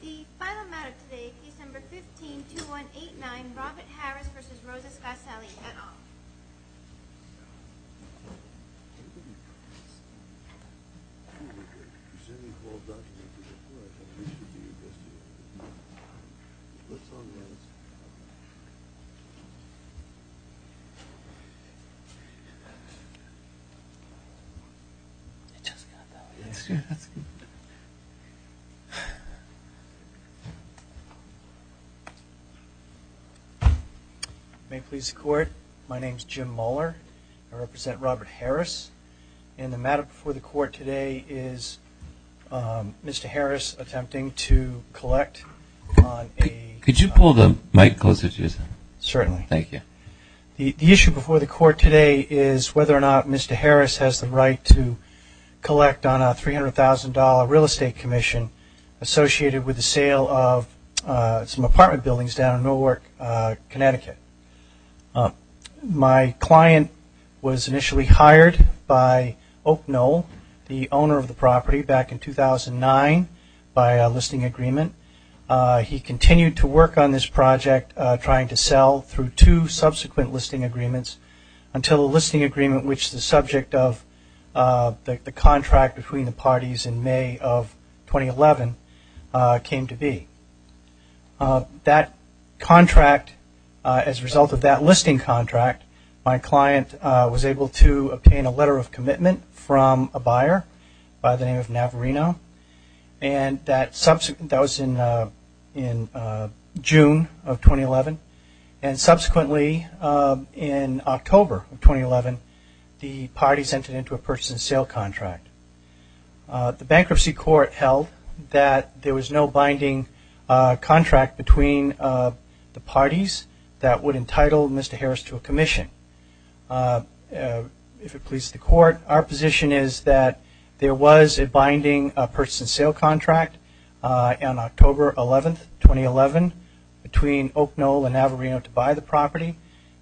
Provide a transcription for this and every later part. The final matter today is December 15, 2189, Robert Harris v. Rosa Scarcelli, et al. May it please the Court, my name is Jim Muller. I represent Robert Harris and the matter before the Court today is Mr. Harris attempting to collect on a- Could you pull the mic closer to yourself? Certainly. Thank you. The issue before the Court today is whether or not Mr. Harris has the right to collect on a $300,000 real estate commission associated with the sale of some apartment buildings down in Millwork, Connecticut. My client was initially hired by Oak Knoll, the owner of the property back in 2009 by a listing agreement. He continued to work on this project trying to sell through two subsequent listing agreements until a listing agreement which the subject of the contract between the parties in May of 2011 came to be. That contract, as a result of that listing contract, my client was able to obtain a letter of commitment from a buyer by the name of Navarino and that was in June of 2011 and subsequently in October of 2011 the parties entered into a purchase and sale contract. The bankruptcy court held that there was no binding contract between the parties that would entitle Mr. Harris to a commission. If it please the Court, our position is that there was a binding purchase and sale contract on October 11, 2011 between Oak Knoll and Navarino to buy the property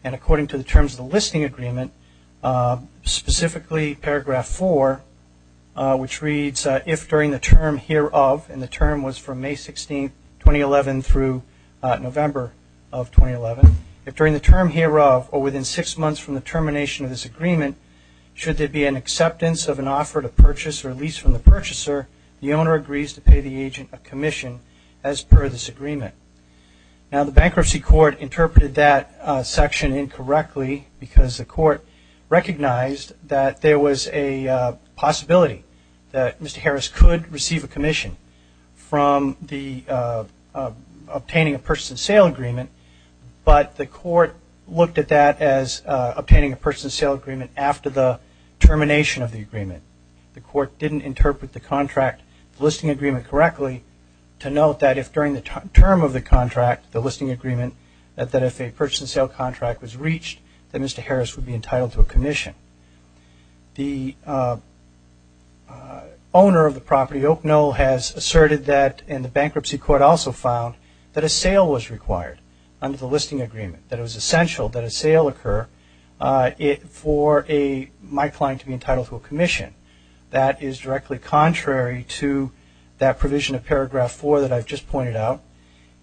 and according to the terms of the listing agreement, specifically paragraph four which reads, if during the term hereof, and the term was from May 16, 2011 through November of 2011, if during the term hereof or within six months from the termination of this agreement, should there be an acceptance of an offer to purchase or lease from the purchaser, the owner agrees to pay the agent a commission as per this agreement. Now the bankruptcy court interpreted that section incorrectly because the Court recognized that there was a possibility that Mr. Harris could receive a commission from obtaining a purchase and sale agreement, but the Court looked at that as obtaining a purchase and sale agreement after the termination of the agreement. The Court didn't interpret the contract, the listing agreement correctly to note that if during the term of the contract, the listing agreement, that if a purchase and sale contract was reached, that Mr. Harris would be entitled to a commission. The owner of the property, Oak Knoll, has asserted that and the bankruptcy court also found that a sale was required under the listing agreement, that it was essential that a sale occur for a, my client to be entitled to a commission. That is directly contrary to that provision of paragraph four that I've just pointed out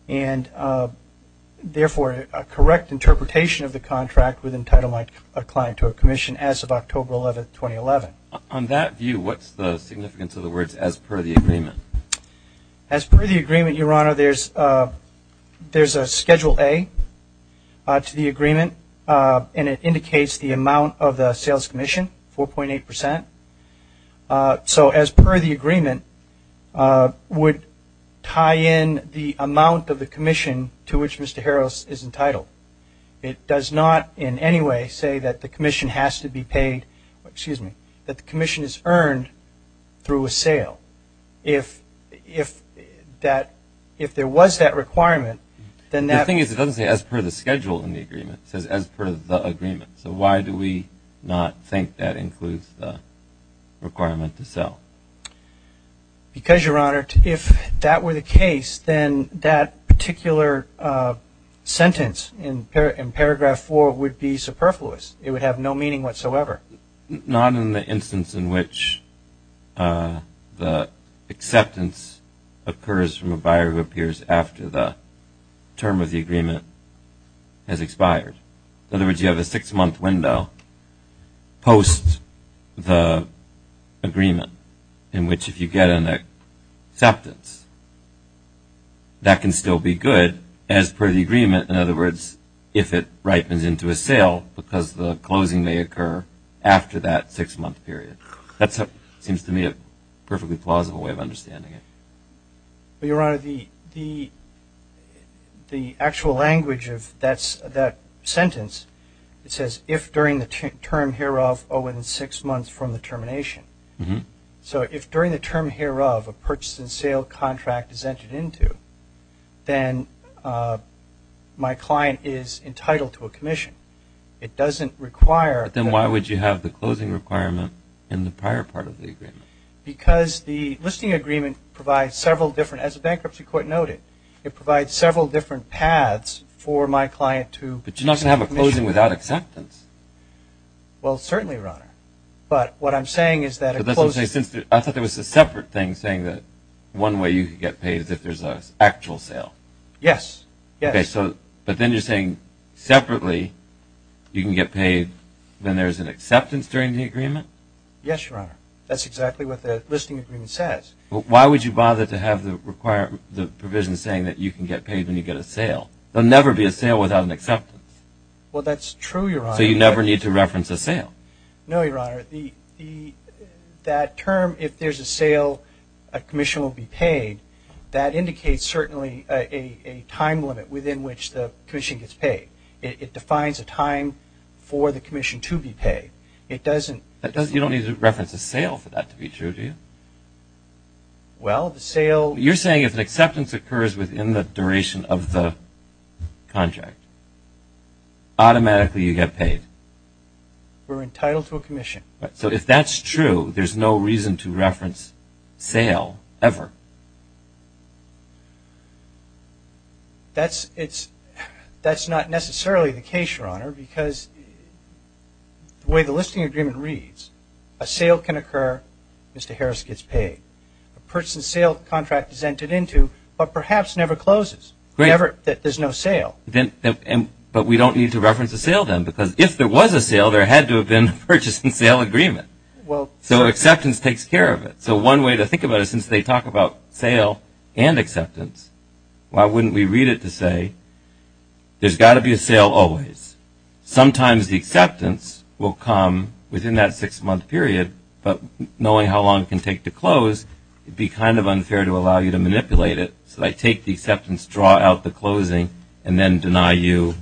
and therefore a correct interpretation of the contract would entitle a client to a commission as of October 11, 2011. On that view, what's the significance of the words as per the agreement? As per the agreement, Your Honor, there's a Schedule A to the agreement and it indicates the amount of the sales commission, 4.8%. So as per the agreement, would tie in the amount of the commission to which Mr. Harris is entitled. It does not in any way say that the commission has to be paid, excuse me, that the commission is earned through a sale. If there was that requirement, then that The thing is it doesn't say as per the schedule in the agreement. It says as per the agreement. So why do we not think that includes the requirement to sell? Because Your Honor, if that were the case, then that particular sentence in paragraph four would be superfluous. It would have no meaning whatsoever. Not in the instance in which the acceptance occurs from a buyer who appears after the term of the agreement has expired. In other words, you have a six-month window post the agreement in which if you get an acceptance, that can still be good as per the agreement. In other words, if it ripens into a sale because the closing may occur after that six-month period. That seems to me a perfectly plausible way of understanding it. Your Honor, the actual language of that sentence, it says if during the term hereof or within six months from the termination. So if during the term hereof a purchase and sale contract is entered into, then my client is entitled to a commission. It doesn't require But then why would you have the closing requirement in the prior part of the agreement? Because the listing agreement provides several different, as the bankruptcy court noted, it provides several different paths for my client to But you're not going to have a closing without acceptance. Well certainly, Your Honor. But what I'm saying is that I thought there was a separate thing saying that one way you could get paid is if there's an actual sale. Yes, yes. But then you're saying separately you can get paid when there's an acceptance during the agreement? Yes, Your Honor. That's exactly what the listing agreement says. Why would you bother to have the provision saying that you can get paid when you get a sale? There will never be a sale without an acceptance. Well that's true, Your Honor. So you never need to reference a sale? No, Your Honor. That term, if there's a sale, a commission will be paid, that indicates certainly a time limit within which the commission gets paid. It defines a time for the commission to be paid. It doesn't You don't need to reference a sale for that to be true, do you? Well, the sale You're saying if an acceptance occurs within the duration of the contract, automatically you get paid? We're entitled to a commission. So if that's true, there's no reason to reference sale ever? That's not necessarily the case, Your Honor, because the way the listing agreement reads, a sale can occur, Mr. Harris gets paid. A purchase and sale contract is entered into, but perhaps never closes. There's no sale. But we don't need to reference a sale then, because if there was a sale, there had to have been a purchase and sale agreement. So acceptance takes care of it. So one way to think about it, since they talk about sale and acceptance, why wouldn't we read it to but knowing how long it can take to close, it would be kind of unfair to allow you to manipulate it. So they take the acceptance, draw out the closing, and then deny you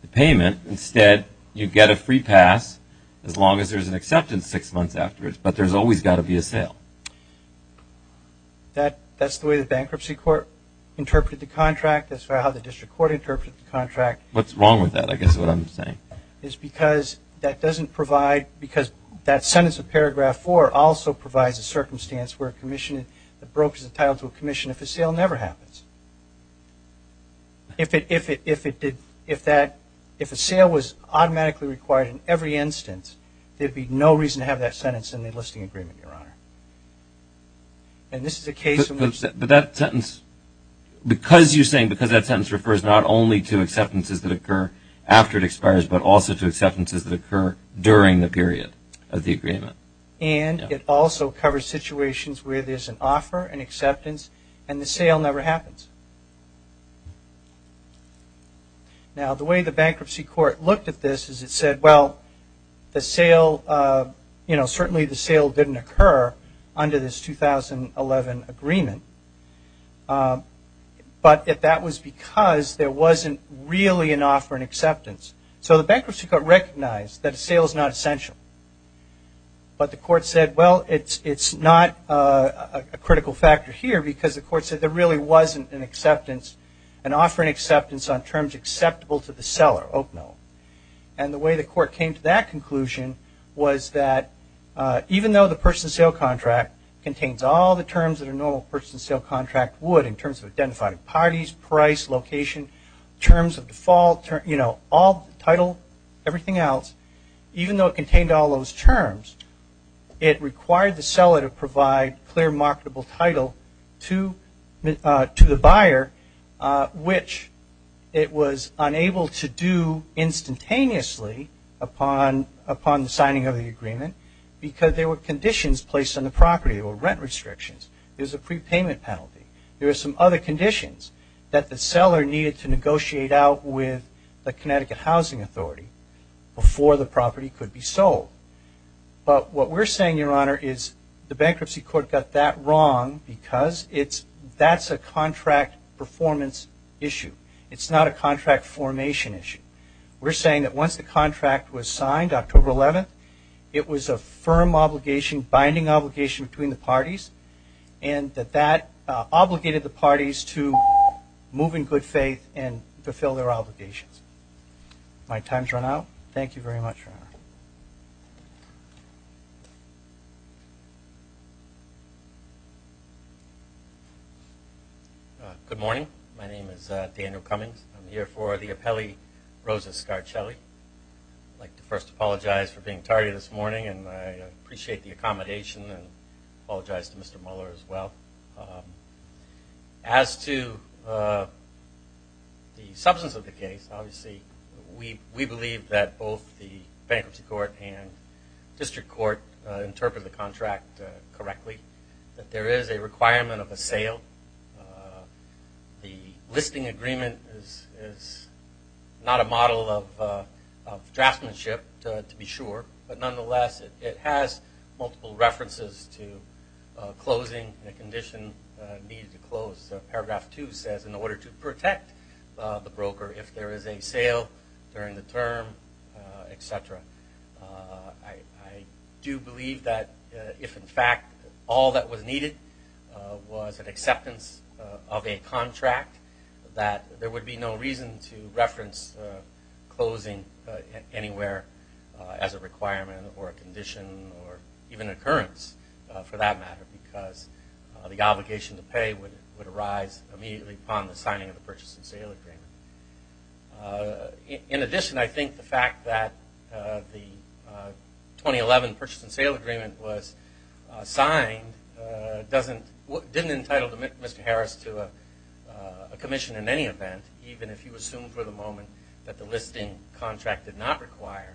the payment. Instead, you get a free pass as long as there's an acceptance six months afterwards. But there's always got to be a sale. That's the way the bankruptcy court interpreted the contract. That's how the district court interpreted the contract. What's wrong with that, I guess is what I'm saying. Because that sentence in paragraph four also provides a circumstance where a commission that broke is entitled to a commission if a sale never happens. If a sale was automatically required in every instance, there'd be no reason to have that sentence in the enlisting agreement, Your Honor. But that sentence, because you're saying because that sentence refers not only to acceptances that occur after it expires, but also to acceptances that occur during the period of the agreement. And it also covers situations where there's an offer, an acceptance, and the sale never happens. Now, the way the bankruptcy court looked at this is it said, well, certainly the sale didn't occur under this 2011 agreement. But that was because there wasn't really an offer and acceptance. So the bankruptcy court recognized that a sale is not essential. But the court said, well, it's not a critical factor here because the court said there really wasn't an offer and acceptance on terms acceptable to the seller, Oak Knoll. And the way the court came to that conclusion was that even though the purchase and sale contract contains all the terms that a normal purchase and sale contract would in terms of identifying parties, price, location, terms of default, you know, all title, everything else, even though it contained all those terms, it required the seller to provide clear marketable title to the buyer, which it was unable to do instantaneously upon the signing of the agreement because there were conditions placed on the property. There were rent restrictions. There was a prepayment penalty. There were some other conditions that the seller needed to negotiate out with the Connecticut Housing Authority before the property could be sold. But what we're saying, Your Honor, is the bankruptcy court got that wrong because it's that's a contract performance issue. It's not a contract formation issue. We're saying that once the contract was signed, October 11th, it was a firm obligation, binding obligation between the parties and that that obligated the parties to move in good faith and fulfill their obligations. My time's run out. Thank you very much, Your Honor. Good morning. My name is Daniel Cummings. I'm here for the Apelli Rosa Scarchelli. I'd like to first apologize for being tardy this morning, and I appreciate the accommodation and apologize to Mr. Mueller as well. As to the substance of the case, obviously, we believe that both the bankruptcy court and district court interpreted the contract correctly, that there is a requirement of a sale. The listing agreement is not a model of draftsmanship, to be sure, but nonetheless, it has multiple references to closing, a condition needed to close. Paragraph 2 says in order to protect the broker if there is a sale during the term, et cetera. I do believe that if, in fact, all that was needed was an acceptance of a contract, that there would be no reason to reference closing anywhere as a requirement or a condition or even an occurrence for that matter because the obligation to pay would arise immediately upon the signing of the purchase and sale agreement. In addition, I think the fact that the 2011 purchase and sale agreement was signed didn't entitle Mr. Harris to a commission in any event, even if you assume for the moment that the listing contract did not require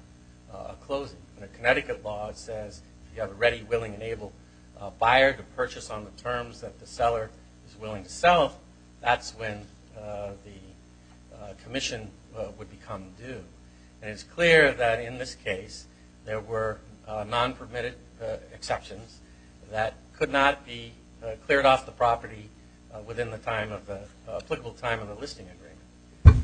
a closing. In the Connecticut law, it says if you have a ready, willing, and able buyer to purchase on the terms that the seller is willing to sell, that's when the commission would become due. And it's clear that in this case there were non-permitted exceptions that could not be cleared off the property within the applicable time of the listing agreement.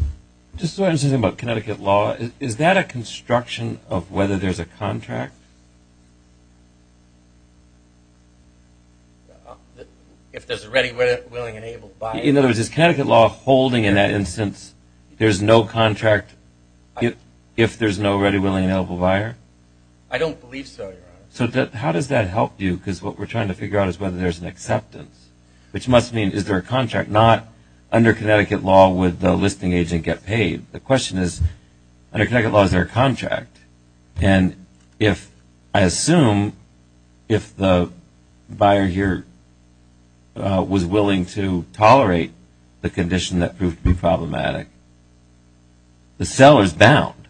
Just so I understand something about Connecticut law, is that a construction of whether there's a contract? If there's a ready, willing, and able buyer. In other words, is Connecticut law holding in that instance there's no contract if there's no ready, willing, and able buyer? I don't believe so, Your Honor. So how does that help you? Because what we're trying to figure out is whether there's an acceptance, which must mean is there a contract? Not under Connecticut law would the listing agent get paid. The question is, under Connecticut law, is there a contract? And if I assume if the buyer here was willing to tolerate the condition that proved to be problematic, the seller's bound.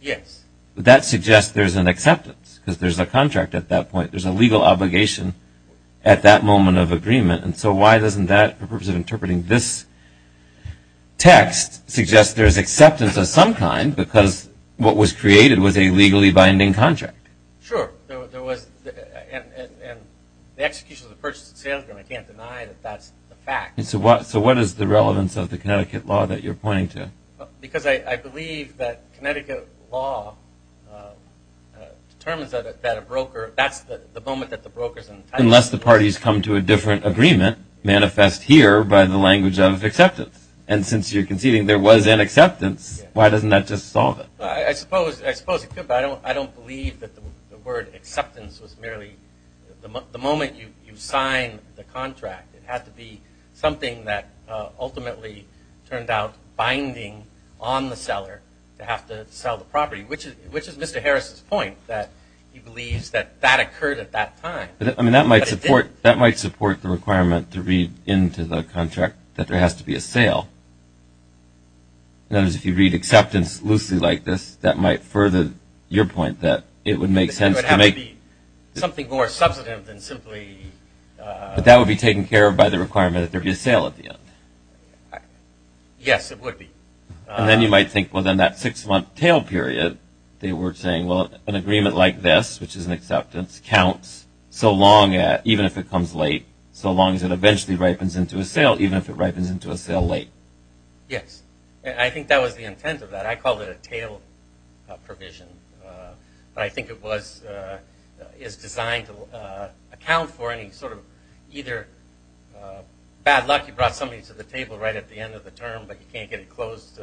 Yes. That suggests there's an acceptance because there's a contract at that point. There's a legal obligation at that moment of agreement. And so why doesn't that, for the purpose of interpreting this text, suggest there's acceptance of some kind because what was created was a legally binding contract? Sure. And the execution of the purchase of the salesman, I can't deny that that's the fact. So what is the relevance of the Connecticut law that you're pointing to? Because I believe that Connecticut law determines that a broker, that's the moment that the broker's entitled to. Unless the parties come to a different agreement, manifest here by the language of acceptance. And since you're conceding there was an acceptance, why doesn't that just solve it? I suppose it could, but I don't believe that the word acceptance was merely the moment you sign the contract. It had to be something that ultimately turned out binding on the seller to have to sell the property, which is Mr. Harris's point, that he believes that that occurred at that time. I mean, that might support the requirement to read into the contract that there has to be a sale. In other words, if you read acceptance loosely like this, that might further your point that it would make sense to make. It would have to be something more substantive than simply. But that would be taken care of by the requirement that there be a sale at the end. Yes, it would be. And then you might think, well, then that six-month tail period, they were saying, well, an agreement like this, which is an acceptance, counts so long, even if it comes late, so long as it eventually ripens into a sale, even if it ripens into a sale late. Yes. I think that was the intent of that. I called it a tail provision. But I think it was designed to account for any sort of either bad luck. You brought somebody to the table right at the end of the term, but you can't get it closed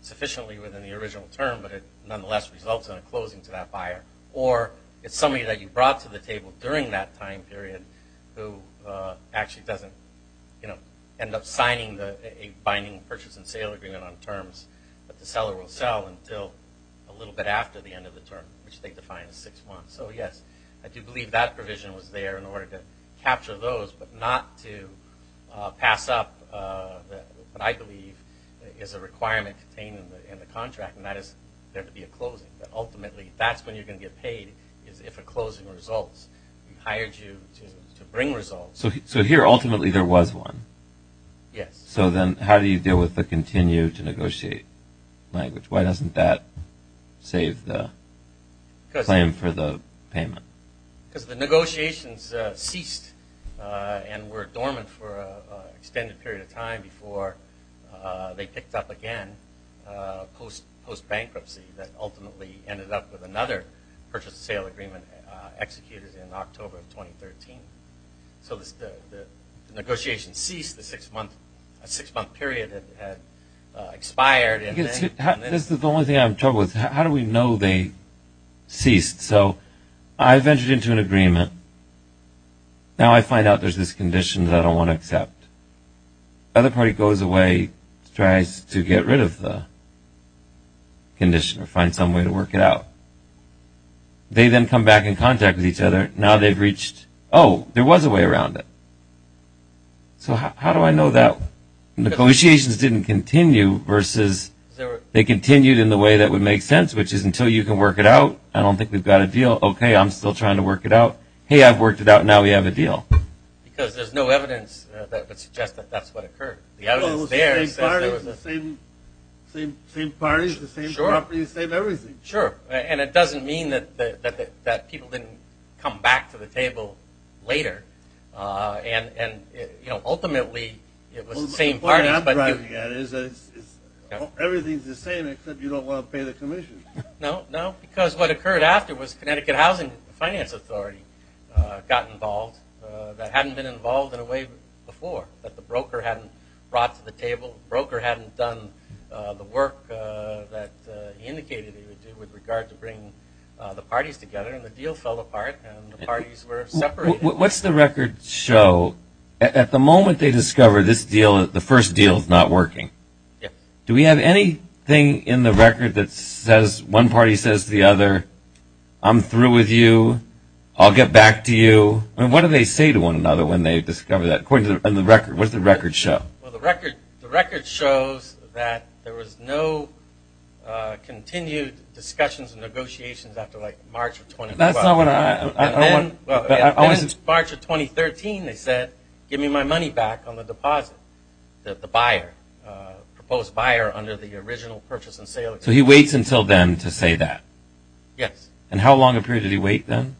sufficiently within the original term, but it nonetheless results in a closing to that buyer. Or it's somebody that you brought to the table during that time period who actually doesn't, you know, end up signing a binding purchase and sale agreement on terms that the seller will sell until a little bit after the end of the term, which they define as six months. So, yes, I do believe that provision was there in order to capture those, but not to pass up what I believe is a requirement contained in the contract, and that is there to be a closing. Ultimately, that's when you're going to get paid is if a closing results. We hired you to bring results. So here ultimately there was one. Yes. So then how do you deal with the continue to negotiate language? Why doesn't that save the claim for the payment? Because the negotiations ceased and were dormant for an extended period of time before they picked up again post-bankruptcy that ultimately ended up with another purchase and sale agreement executed in October of 2013. So the negotiations ceased. The six-month period had expired. This is the only thing I'm troubled with. How do we know they ceased? So I ventured into an agreement. Now I find out there's this condition that I don't want to accept. The other party goes away, tries to get rid of the condition or find some way to work it out. They then come back in contact with each other. Now they've reached, oh, there was a way around it. So how do I know that negotiations didn't continue versus they continued in the way that would make sense, which is until you can work it out, I don't think we've got a deal. Okay, I'm still trying to work it out. Hey, I've worked it out. Now we have a deal. Because there's no evidence that would suggest that that's what occurred. The evidence is there. It's the same parties, the same properties, the same everything. Sure. And it doesn't mean that people didn't come back to the table later. And ultimately it was the same parties. What I'm driving at is everything's the same except you don't want to pay the commission. No, no, because what occurred after was Connecticut Housing and Finance Authority got involved that hadn't been involved in a way before, that the broker hadn't brought to the table, the broker hadn't done the work that he indicated he would do with regard to bringing the parties together, and the deal fell apart and the parties were separated. What's the record show? So at the moment they discover this deal, the first deal is not working. Do we have anything in the record that says one party says to the other, I'm through with you, I'll get back to you? I mean, what do they say to one another when they discover that? What does the record show? Well, the record shows that there was no continued discussions and negotiations after, like, March of 2012. And then March of 2013 they said, give me my money back on the deposit, the buyer, the proposed buyer under the original purchase and sale agreement. So he waits until then to say that? Yes. And how long a period did he wait then?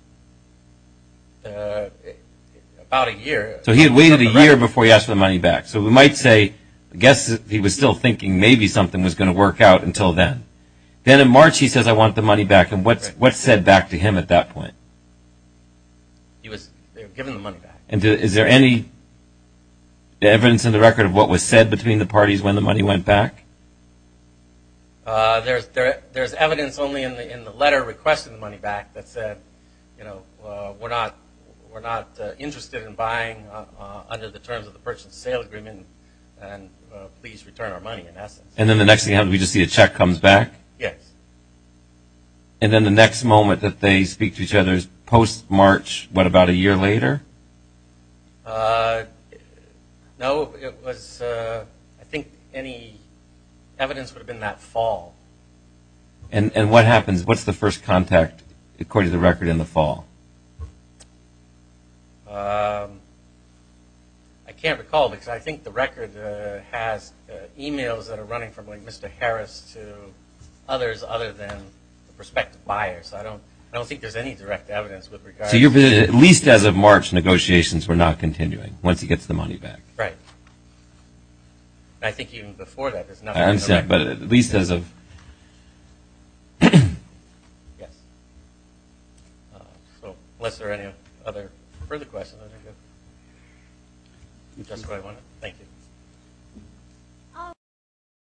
About a year. So he had waited a year before he asked for the money back. So we might say, I guess he was still thinking maybe something was going to work out until then. Then in March he says, I want the money back. And what's said back to him at that point? He was given the money back. And is there any evidence in the record of what was said between the parties when the money went back? There's evidence only in the letter requesting the money back that said, you know, we're not interested in buying under the terms of the purchase and sale agreement, and please return our money in essence. And then the next thing happens, we just see a check comes back? Yes. And then the next moment that they speak to each other is post-March, what, about a year later? No, I think any evidence would have been that fall. And what happens? What's the first contact according to the record in the fall? I can't recall because I think the record has e-mails that are running from, like, Mr. Harris to others other than the prospective buyers. I don't think there's any direct evidence with regard to that. So at least as of March, negotiations were not continuing once he gets the money back. Right. I think even before that there's nothing. I understand. But at least as of ‑‑ Yes. So unless there are any other further questions, I think that's all I wanted. Thank you.